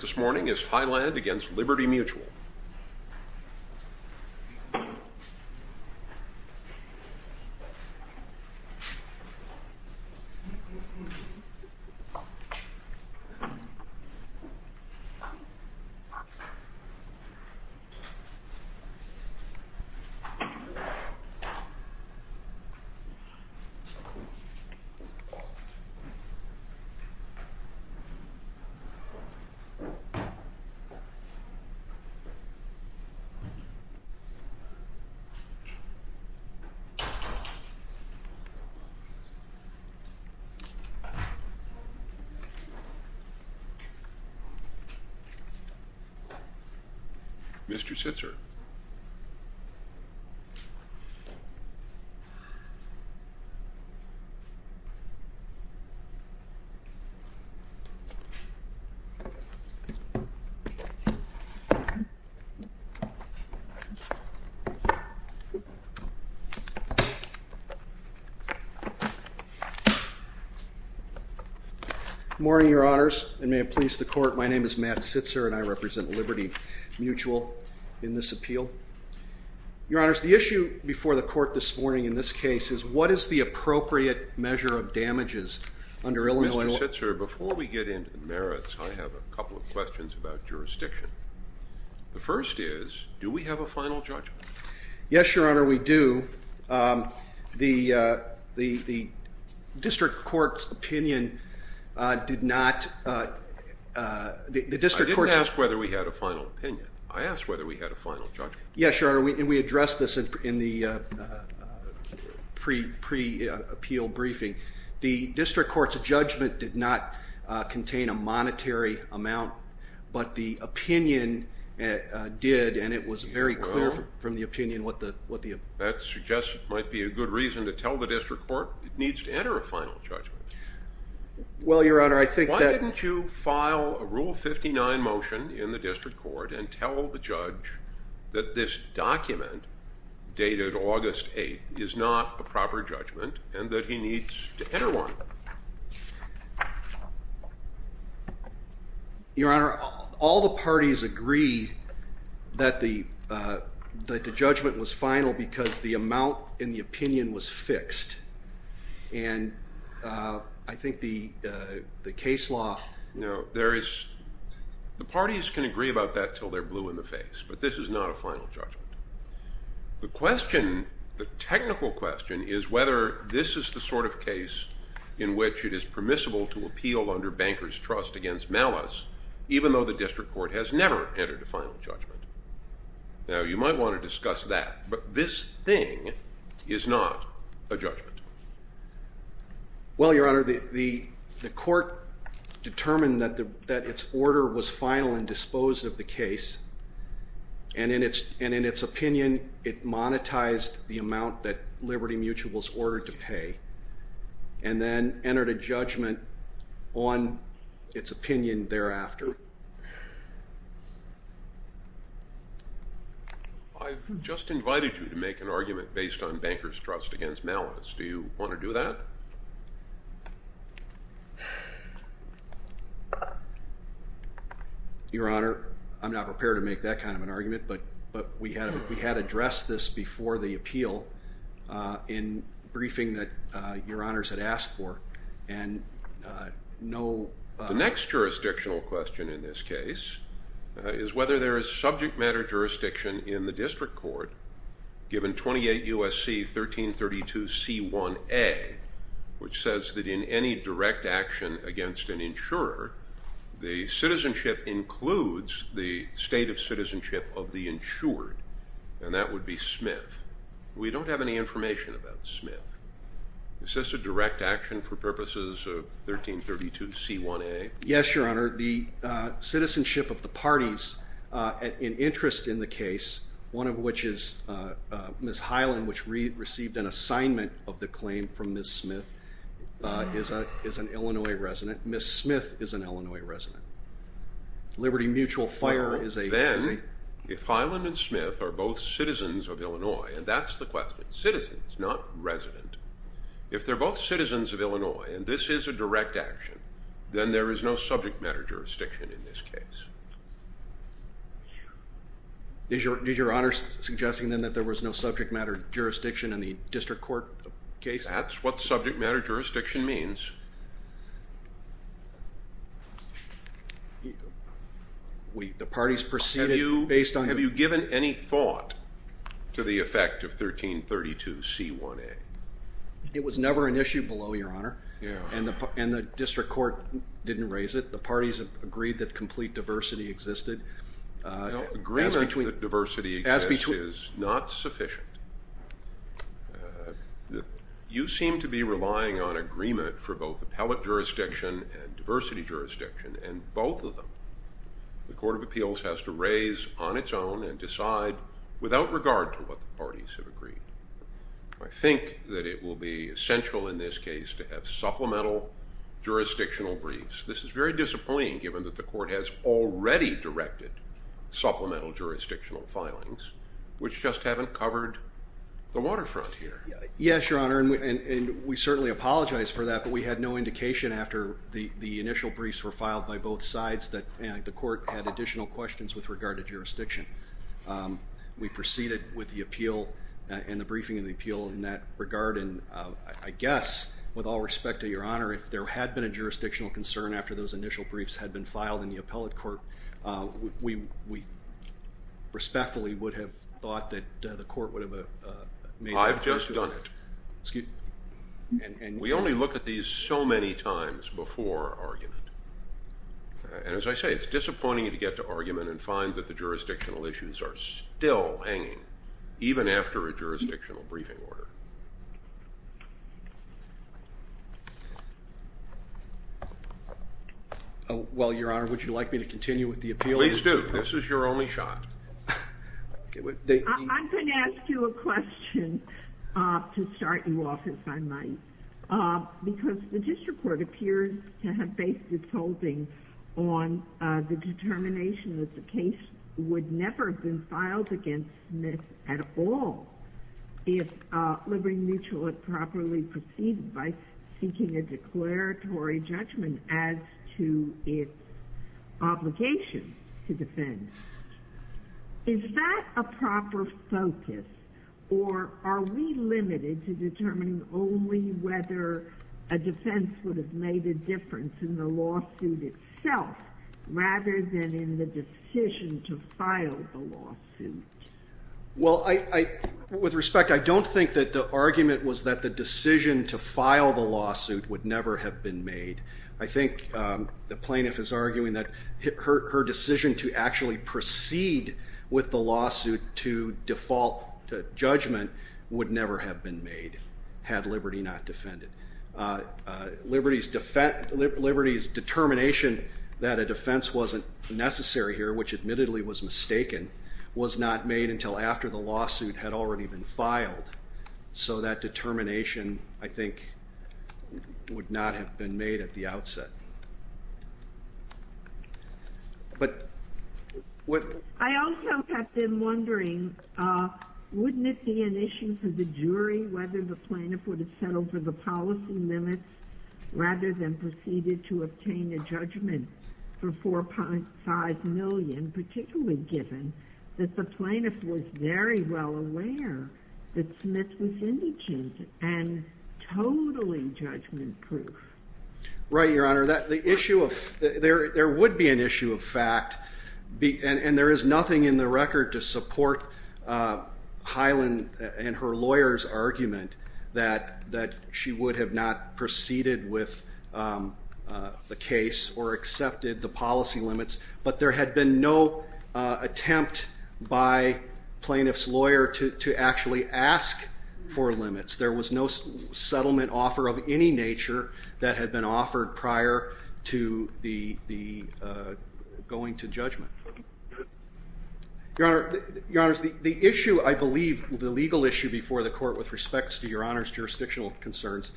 This morning is Hyland against Liberty Mutual. The issue before the court this morning in this case is what is the appropriate measure of damages under Illinois law? Mr. Sitzer, before we get into the merits, I have a couple of questions about jurisdiction. The first is, do we have a final judgment? Yes, Your Honor, we do. The district court's opinion did not... I didn't ask whether we had a final opinion. I asked whether we had a final judgment. Yes, Your Honor, we addressed this in the pre-appeal briefing. The district court's judgment did not contain a monetary amount, but the opinion did, and it was very clear from the opinion what the... That might be a good reason to tell the district court it needs to enter a final judgment. Well, Your Honor, I think that... This document dated August 8th is not a proper judgment and that he needs to enter one. Your Honor, all the parties agreed that the judgment was final because the amount in the opinion was fixed, and I think the case law... The parties can agree about that until they're blue in the face, but this is not a final judgment. The question, the technical question, is whether this is the sort of case in which it is permissible to appeal under banker's trust against malice, even though the district court has never entered a final judgment. Now, you might want to discuss that, but this thing is not a judgment. Well, Your Honor, the court determined that its order was final and disposed of the case, and in its opinion, it monetized the amount that Liberty Mutual was ordered to pay and then entered a judgment on its opinion thereafter. I've just invited you to make an argument based on banker's trust against malice. Do you want to do that? Your Honor, I'm not prepared to make that kind of an argument, but we had addressed this before the appeal in briefing that Your Honors had asked for, and no... The next jurisdictional question in this case is whether there is subject matter jurisdiction in the district court given 28 U.S.C. 1332c1a, which says that in any direct action against an insurer, the citizenship includes the state of citizenship of the insured, and that would be Smith. We don't have any information about Smith. Is this a direct action for purposes of 1332c1a? Yes, Your Honor. The citizenship of the parties in interest in the case, one of which is Ms. Highland, which received an assignment of the claim from Ms. Smith, is an Illinois resident. Ms. Smith is an Illinois resident. Liberty Mutual fire is a... Well, then, if Highland and Smith are both citizens of Illinois, and that's the question, citizens, not resident, if they're both citizens of Illinois and this is a direct action, then there is no subject matter jurisdiction in this case. Is Your Honor suggesting then that there was no subject matter jurisdiction in the district court case? That's what subject matter jurisdiction means. The parties proceeded based on... Have you given any thought to the effect of 1332c1a? It was never an issue below, Your Honor, and the district court didn't raise it. The parties agreed that complete diversity existed. Agreement that diversity exists is not sufficient. You seem to be relying on agreement for both appellate jurisdiction and diversity jurisdiction, and both of them. The Court of Appeals has to raise on its own and decide without regard to what the parties have agreed. I think that it will be essential in this case to have supplemental jurisdictional briefs. This is very disappointing given that the court has already directed supplemental jurisdictional filings, which just haven't covered the waterfront here. Yes, Your Honor, and we certainly apologize for that, but we had no indication after the initial briefs were filed by both sides that the court had additional questions with regard to jurisdiction. We proceeded with the appeal and the briefing of the appeal in that regard, and I guess, with all respect to Your Honor, if there had been a jurisdictional concern after those initial briefs had been filed in the appellate court, we respectfully would have thought that the court would have made... I've just done it. We only look at these so many times before argument, and as I say, it's disappointing to get to argument and find that the jurisdictional issues are still hanging even after a jurisdictional briefing order. Well, Your Honor, would you like me to continue with the appeal? Please do. This is your only shot. I'm going to ask you a question to start you off, if I might, because the district court appears to have based its holding on the determination that the case would never have been filed against Smith at all if Liberty Mutual had properly proceeded by seeking a declaratory judgment as to its obligation to defend. Is that a proper focus, or are we limited to determining only whether a defense would have made a difference in the lawsuit itself rather than in the decision to file the lawsuit? Well, with respect, I don't think that the argument was that the decision to file the lawsuit would never have been made. I think the plaintiff is arguing that her decision to actually proceed with the lawsuit to default judgment would never have been made had Liberty not defended. Liberty's determination that a defense wasn't necessary here, which admittedly was mistaken, so that determination, I think, would not have been made at the outset. I also have been wondering, wouldn't it be an issue for the jury whether the plaintiff would have settled for the policy limits rather than proceeded to obtain a judgment for $4.5 million, particularly given that the plaintiff was very well aware that Smith was indigent and totally judgment-proof? Right, Your Honor. There would be an issue of fact, and there is nothing in the record to support Hyland and her lawyer's argument that she would have not proceeded with the case or accepted the policy limits, but there had been no attempt by plaintiff's lawyer to actually ask for limits. There was no settlement offer of any nature that had been offered prior to going to judgment. Your Honor, the issue, I believe, the legal issue before the court, with respect to Your Honor's jurisdictional concerns,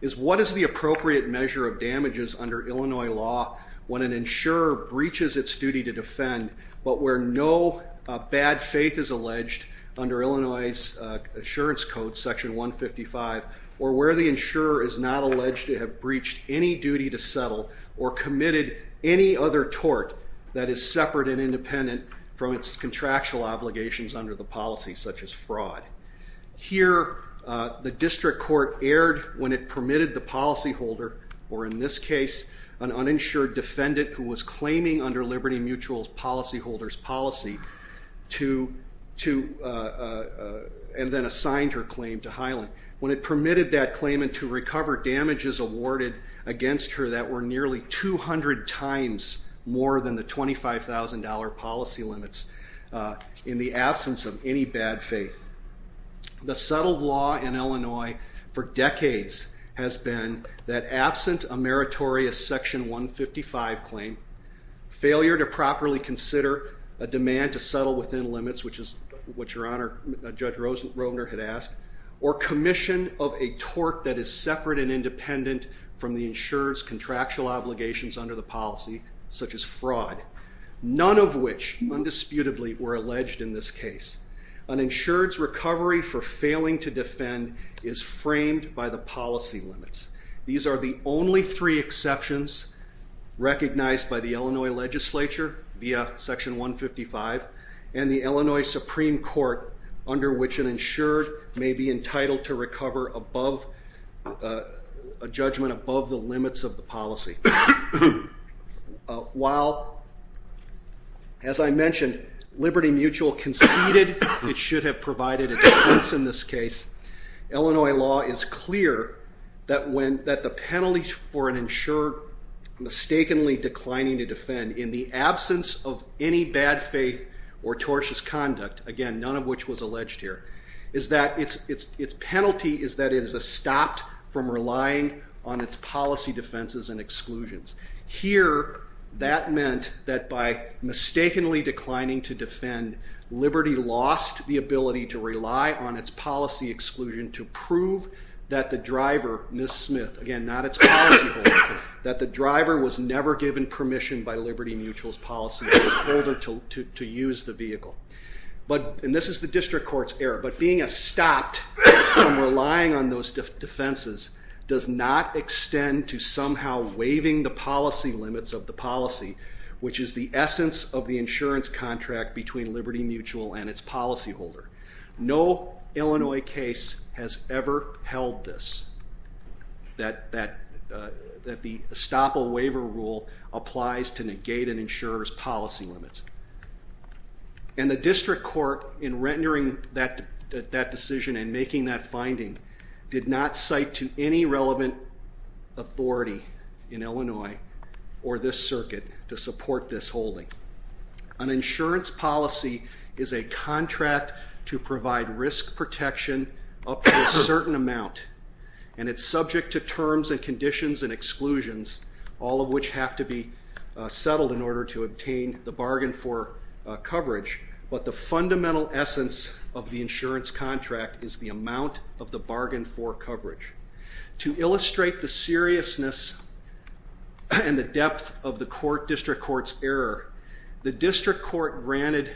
is what is the appropriate measure of damages under Illinois law when an insurer breaches its duty to defend, but where no bad faith is alleged under Illinois Assurance Code, Section 155, or where the insurer is not alleged to have breached any duty to settle or committed any other tort that is separate and independent from its contractual obligations under the policy, such as fraud. Here, the district court erred when it permitted the policyholder, or in this case, an uninsured defendant who was claiming under Liberty Mutual's policyholder's policy and then assigned her claim to Hyland. When it permitted that claimant to recover damages awarded against her that were nearly 200 times more than the $25,000 policy limits in the absence of any bad faith. The settled law in Illinois for decades has been that absent a meritorious Section 155 claim, failure to properly consider a demand to settle within limits, which is what Your Honor, Judge Rovner had asked, or commission of a tort that is separate and independent from the insurer's contractual obligations under the policy, such as fraud, none of which, undisputably, were alleged in this case. An insured's recovery for failing to defend is framed by the policy limits. These are the only three exceptions recognized by the Illinois legislature via Section 155 and the Illinois Supreme Court under which an insured may be entitled to recover above a judgment above the limits of the policy. While, as I mentioned, Liberty Mutual conceded it should have provided a defense in this case, Illinois law is clear that the penalty for an insured mistakenly declining to defend in the absence of any bad faith or tortious conduct, again, none of which was alleged here, is that its penalty is that it is stopped from relying on its policy defenses and exclusions. Here, that meant that by mistakenly declining to defend, Liberty lost the ability to rely on its policy exclusion to prove that the driver, Ms. Smith, again, not its policy holder, that the driver was never given permission by Liberty Mutual's policy holder to use the vehicle. And this is the district court's error, but being stopped from relying on those defenses does not extend to somehow waiving the policy limits of the policy, which is the essence of the insurance contract between Liberty Mutual and its policy holder. No Illinois case has ever held this, that the estoppel waiver rule applies to negate an insurer's policy limits. And the district court, in rendering that decision and making that finding, did not cite to any relevant authority in Illinois or this circuit to support this holding. An insurance policy is a contract to provide risk protection up to a certain amount, and it's subject to terms and conditions and exclusions, all of which have to be settled in order to obtain the bargain for coverage, but the fundamental essence of the insurance contract is the amount of the bargain for coverage. To illustrate the seriousness and the depth of the district court's error, the district court granted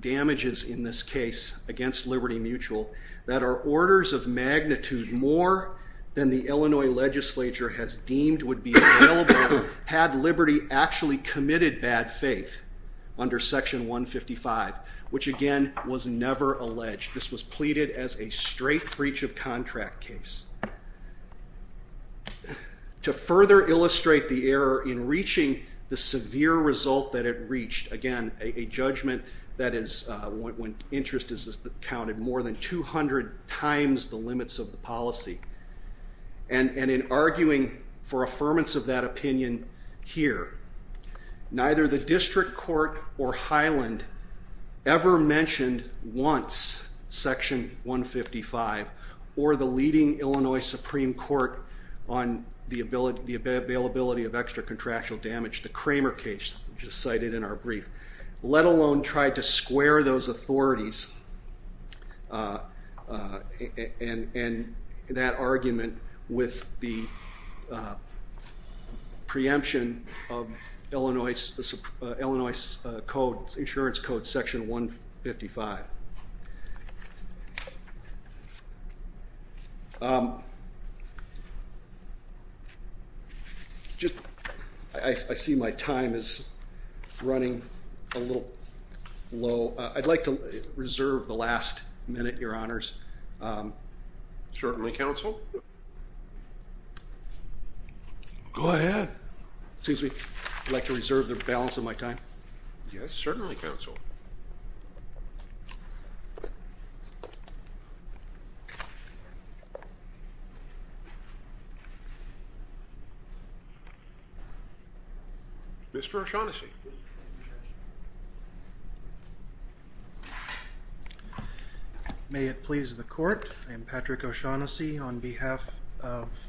damages in this case against Liberty Mutual that are orders of magnitude more than the Illinois legislature has deemed would be available had Liberty actually committed bad faith under Section 155, which again was never alleged. This was pleaded as a straight breach of contract case. To further illustrate the error in reaching the severe result that it reached, again, a judgment that is when interest is counted more than 200 times the limits of the policy, and in arguing for affirmance of that opinion here, neither the district court or Highland ever mentioned once Section 155 or the leading Illinois Supreme Court on the availability of extra contractual damage, the Kramer case, which is cited in our brief, let alone tried to square those authorities and that argument with the preemption of Illinois Insurance Code Section 155. I see my time is running a little low. I'd like to reserve the last minute, Your Honors. Certainly, Counsel. Go ahead. Excuse me. I'd like to reserve the balance of my time. Yes, certainly, Counsel. Mr. O'Shaughnessy. May it please the Court, I am Patrick O'Shaughnessy on behalf of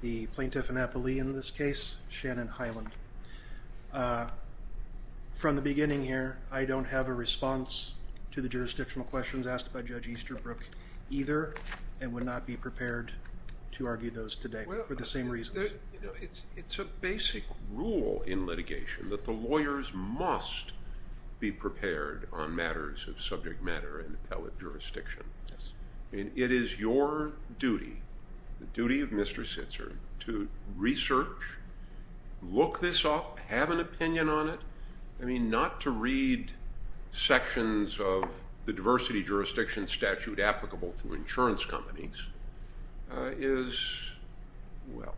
the plaintiff in this case, Shannon Highland. From the beginning here, I don't have a response to the jurisdictional questions asked by Judge Easterbrook either and would not be prepared to argue those today for the same reasons. It's a basic rule in litigation that the lawyers must be prepared on matters of subject matter and appellate jurisdiction. It is your duty, the duty of Mr. Sitzer, to research, look this up, have an opinion on it. I mean, not to read sections of the diversity jurisdiction statute applicable to insurance companies is, well,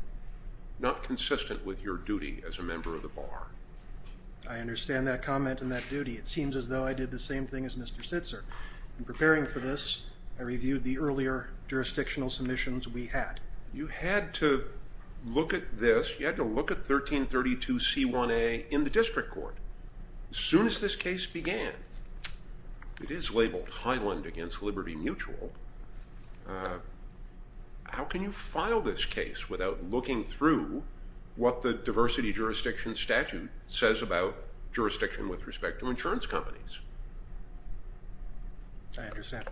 not consistent with your duty as a member of the Bar. I understand that comment and that duty. It seems as though I did the same thing as Mr. Sitzer. In preparing for this, I reviewed the earlier jurisdictional submissions we had. You had to look at this. You had to look at 1332C1A in the district court. As soon as this case began, it is labeled Highland against Liberty Mutual. How can you file this case without looking through what the diversity jurisdiction statute says about jurisdiction with respect to insurance companies? I understand.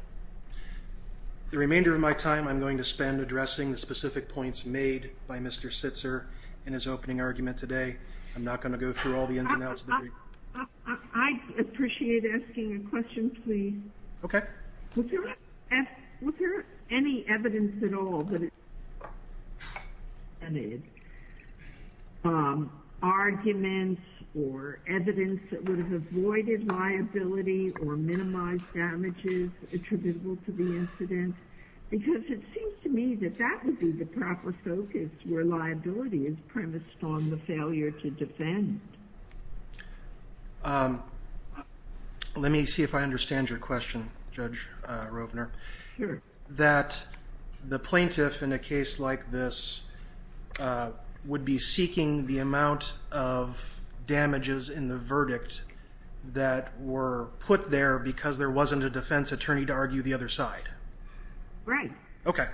The remainder of my time, I'm going to spend addressing the specific points made by Mr. Sitzer in his opening argument today. I'm not going to go through all the ins and outs of the brief. I'd appreciate asking a question, please. Okay. Was there any evidence at all that it would have avoided liability or minimized damages attributable to the incident? Because it seems to me that that would be the proper focus, where liability is premised on the failure to defend. Let me see if I understand your question, Judge Rovner. is a person who is a member of the Bar Association. would be seeking the amount of damages in the verdict that were put there because there wasn't a defense attorney to argue the other side? Right. Okay.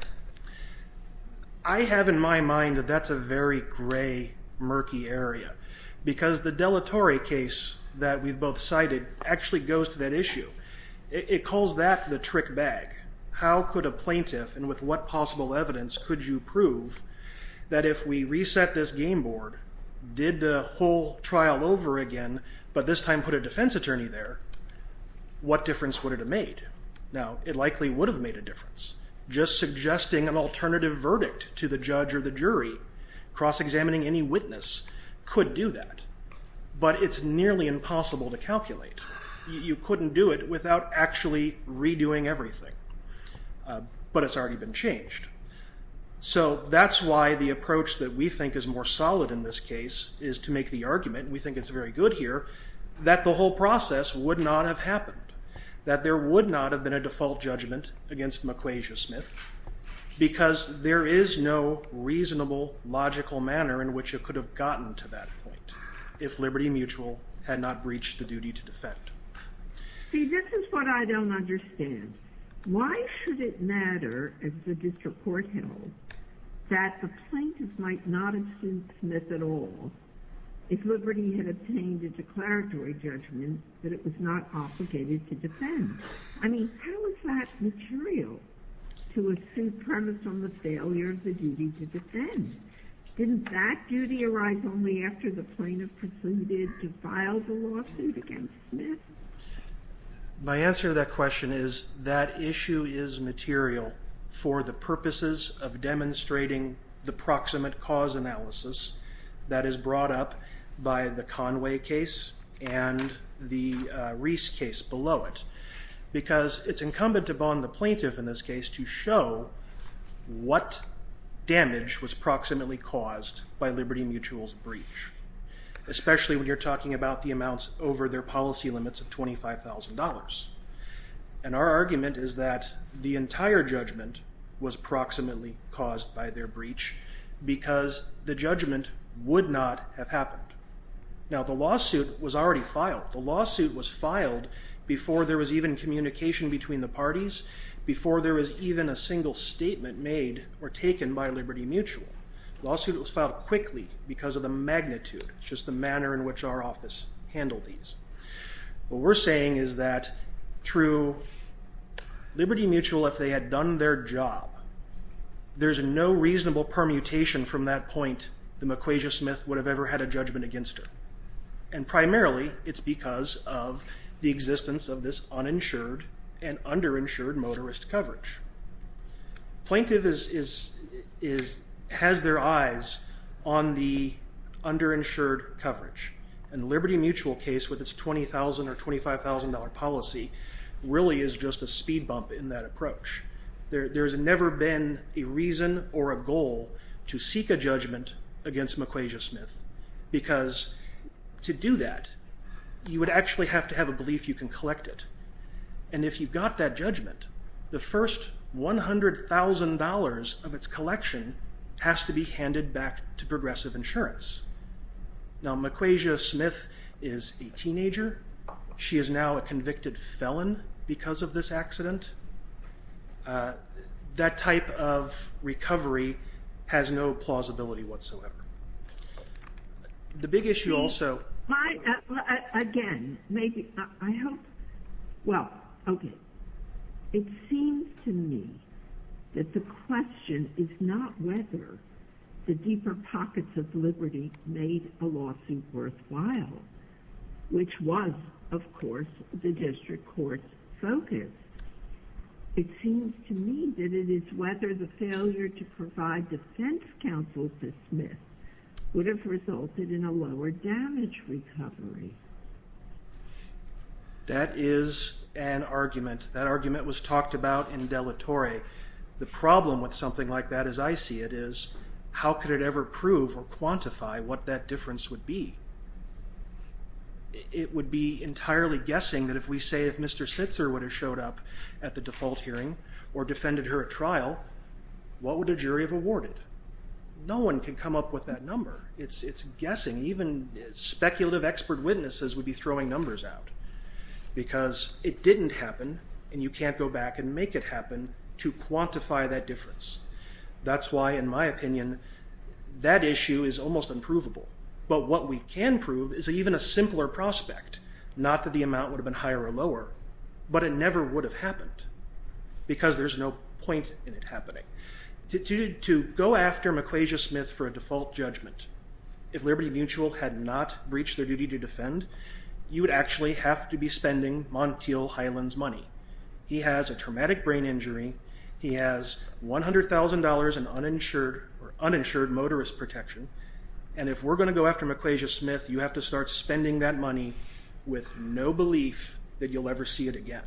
I have in my mind that that's a very gray, murky area. Because the deletory case that we've both cited actually goes to that issue. It calls that the trick bag. How could a plaintiff, and with what possible evidence, could you prove that if we reset this game board, did the whole trial over again, but this time put a defense attorney there, what difference would it have made? Now, it likely would have made a difference. Just suggesting an alternative verdict to the judge or the jury, cross-examining any witness, could do that. But it's nearly impossible to calculate. You couldn't do it without actually redoing everything. But it's already been changed. So that's why the approach that we think is more solid in this case is to make the argument, and we think it's very good here, that the whole process would not have happened, that there would not have been a default judgment against McQuasia-Smith because there is no reasonable, logical manner in which it could have gotten to that point if Liberty Mutual had not breached the duty to defend. See, this is what I don't understand. Why should it matter, as the district court held, that the plaintiff might not have sued Smith at all if Liberty had obtained a declaratory judgment that it was not obligated to defend? I mean, how is that material to assume premise on the failure of the duty to defend? Didn't that duty arise only after the plaintiff concluded to file the lawsuit against Smith? My answer to that question is that issue is material for the purposes of demonstrating the proximate cause analysis that is brought up by the Conway case and the Reese case below it because it's incumbent upon the plaintiff in this case to show what damage was proximately caused by Liberty Mutual's breach, especially when you're talking about the amounts over their policy limits of $25,000. And our argument is that the entire judgment was proximately caused by their breach because the judgment would not have happened. Now, the lawsuit was already filed. The lawsuit was filed before there was even communication between the parties, before there was even a single statement made or taken by Liberty Mutual. The lawsuit was filed quickly because of the magnitude, just the manner in which our office handled these. What we're saying is that through Liberty Mutual, if they had done their job, there's no reasonable permutation from that point that McQuasia-Smith would have ever had a judgment against her. And primarily it's because of the existence of this uninsured and underinsured motorist coverage. Plaintiff has their eyes on the underinsured coverage. And the Liberty Mutual case, with its $20,000 or $25,000 policy, really is just a speed bump in that approach. There's never been a reason or a goal to seek a judgment against McQuasia-Smith because to do that, you would actually have to have a belief you can collect it. And if you got that judgment, the first $100,000 of its collection has to be handed back to Progressive Insurance. Now McQuasia-Smith is a teenager. She is now a convicted felon because of this accident. That type of recovery has no plausibility whatsoever. The big issue also... Again, maybe... Well, okay. It seems to me that the question is not whether the deeper pockets of Liberty made a lawsuit worthwhile, which was, of course, the District Court's focus. It seems to me that it is whether the failure to provide defense counsel to Smith would have resulted in a lower damage recovery. That is an argument. That argument was talked about in De La Torre. The problem with something like that, as I see it, is how could it ever prove or quantify what that difference would be? It would be entirely guessing that if we say if Mr. Sitzer would have showed up at the default hearing or defended her at trial, what would a jury have awarded? No one can come up with that number. It's guessing. Even speculative expert witnesses would be throwing numbers out because it didn't happen and you can't go back and make it happen to quantify that difference. That's why, in my opinion, that issue is almost unprovable. But what we can prove is even a simpler prospect, not that the amount would have been higher or lower, but it never would have happened because there's no point in it happening. To go after McQuasia-Smith for a default judgment, if Liberty Mutual had not breached their duty to defend, you would actually have to be spending Montiel Highland's money. He has a traumatic brain injury. He has $100,000 in uninsured motorist protection. And if we're going to go after McQuasia-Smith, you have to start spending that money with no belief that you'll ever see it again.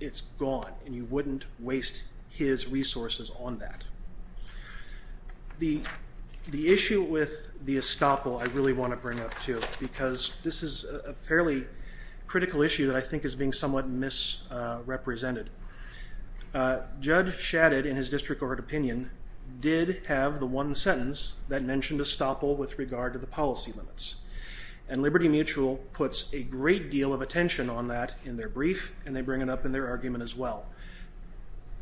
It's gone and you wouldn't waste his resources on that. The issue with the estoppel I really want to bring up too because this is a fairly critical issue that I think is being somewhat misrepresented. Judd Shadid, in his district court opinion, did have the one sentence that mentioned estoppel with regard to the policy limits. Liberty Mutual puts a great deal of attention on that in their brief and they bring it up in their argument as well.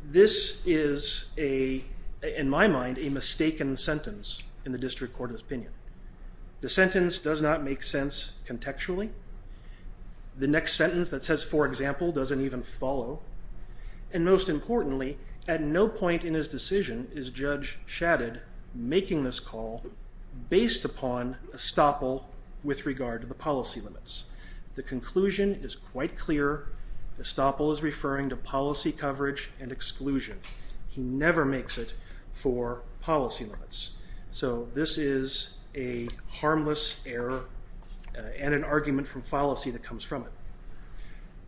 This is, in my mind, a mistaken sentence in the district court opinion. The sentence does not make sense contextually. The next sentence that says, for example, doesn't even follow. And most importantly, at no point in his decision is Judge Shadid making this call based upon estoppel with regard to the policy limits. The conclusion is quite clear. Estoppel is referring to policy coverage and exclusion. He never makes it for policy limits. So this is a harmless error and an argument from fallacy that comes from it.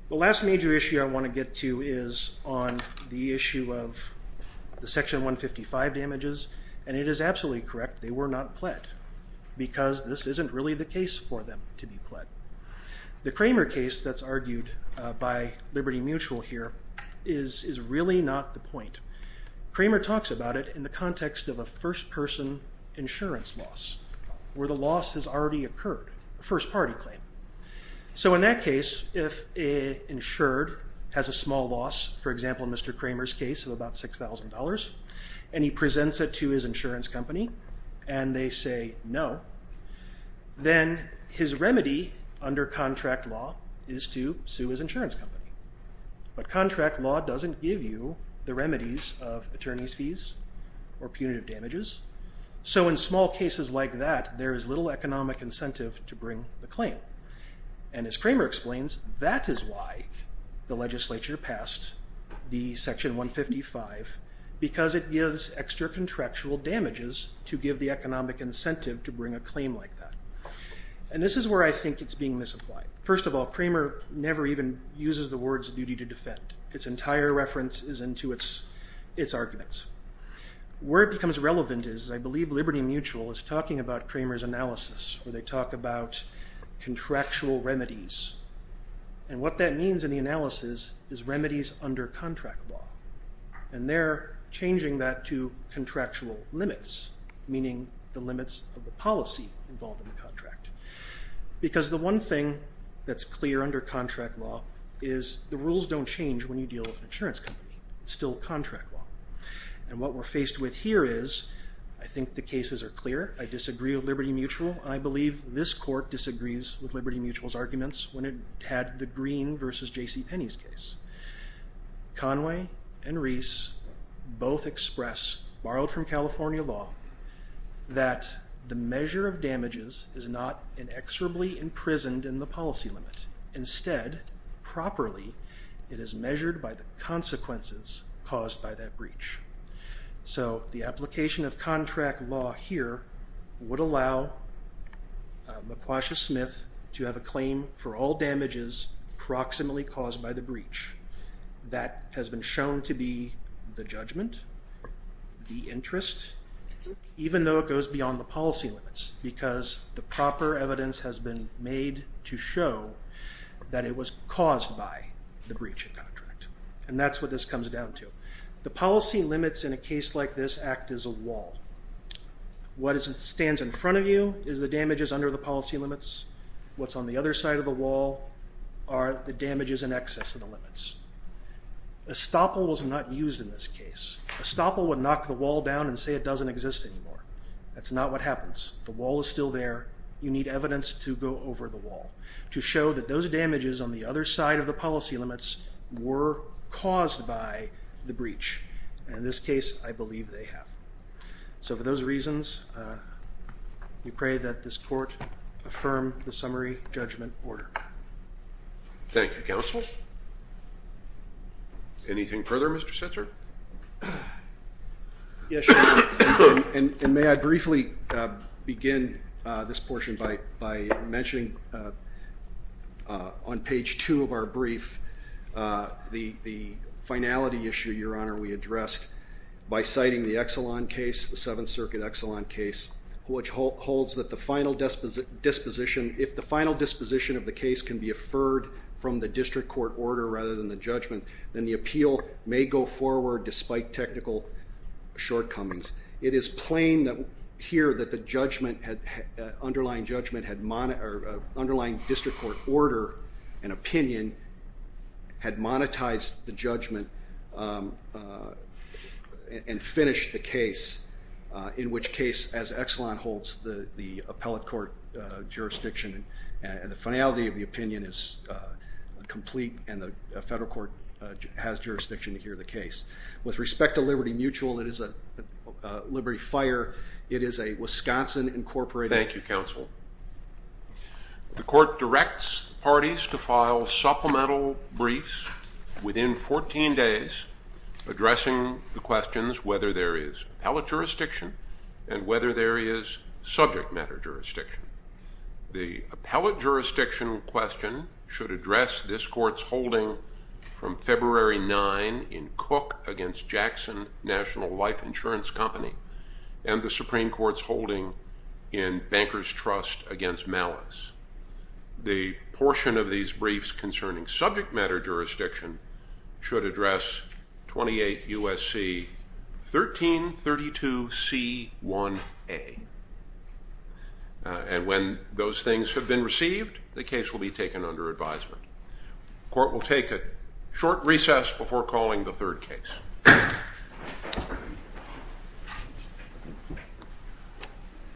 The last major issue I want to get to is on the issue of the Section 155 damages and it is absolutely correct, they were not pled because this isn't really the case for them to be pled. The Kramer case that's argued by Liberty Mutual here is really not the point. Kramer talks about it in the context of a first person insurance loss where the loss has already occurred, a first party claim. So in that case, if an insured has a small loss, for example in Mr. Kramer's case of about $6,000, and he presents it to his insurance company and they say no, then his remedy under contract law is to sue his insurance company. But contract law doesn't give you the remedies of attorney's fees or punitive damages. So in small cases like that, there is little economic incentive to bring the claim. And as Kramer explains, that is why the legislature passed the Section 155 because it gives extra contractual damages to give the economic incentive to bring a claim like that. And this is where I think it's being misapplied. First of all, Kramer never even uses the words duty to defend. Its entire reference is into its arguments. Where it becomes relevant is, I believe Liberty Mutual is talking about Kramer's analysis where they talk about contractual remedies. And what that means in the analysis is remedies under contract law. And they're changing that to contractual limits, meaning the limits of the policy involved in the contract. Because the one thing that's clear under contract law is the rules don't change when you deal with an insurance company. It's still contract law. And what we're faced with here is, I think the cases are clear. I disagree with Liberty Mutual. I believe this court disagrees with Liberty Mutual's arguments when it had the Green versus J.C. Penney's case. Conway and Rees both express, borrowed from California law, that the measure of damages is not inexorably imprisoned in the policy limit. Instead, properly it is measured by the consequences caused by that breach. So the application of contract law here would allow McQuasha-Smith to have a claim for all damages proximately caused by the breach. That has been shown to be the judgment, the interest, even though it goes beyond the policy limits. Because the proper evidence has been made to show that it was caused by the breach of contract. And that's what this comes down to. The policy limits in a case like this act as a wall. What stands in front of you is the damages under the policy limits. What's on the other side of the wall are the damages in excess of the limits. A stopple was not used in this case. A stopple would knock the wall down and say it doesn't exist anymore. That's not what happens. The wall is still there. You need evidence to go over the wall to show that those damages on the other side of the policy limits were caused by the breach. In this case, I believe they have. So for those reasons, we pray that this court affirm the summary judgment order. Thank you, Counsel. Anything further, Mr. Setzer? Yes, Your Honor. And may I briefly begin this portion by mentioning on page two of our brief the finality issue, Your Honor, we addressed by citing the Exelon case, the Seventh Circuit Exelon case, which holds that the final disposition, if the final disposition of the case can be affirmed from the district court order rather than the judgment, then the appeal may go forward despite technical shortcomings. It is plain here that the underlying district court order and opinion had monetized the judgment and finished the case, in which case, as Exelon holds the appellate court jurisdiction and the finality of the opinion is complete and the With respect to Liberty Mutual, it is a Liberty Fire, it is a Wisconsin incorporated Thank you, Counsel. The court directs parties to file supplemental briefs within 14 days addressing the questions whether there is appellate jurisdiction and whether there is subject matter jurisdiction. The appellate jurisdiction question should address this court's holding from February 9 in Cook against Jackson National Life Insurance Company and the Supreme Court's holding in Banker's Trust against Malice. The portion of these briefs concerning subject matter jurisdiction should address 28 USC 1332 C1A. And when those things have been received, the case will be taken under advisement. The court will take a short recess before calling the third case.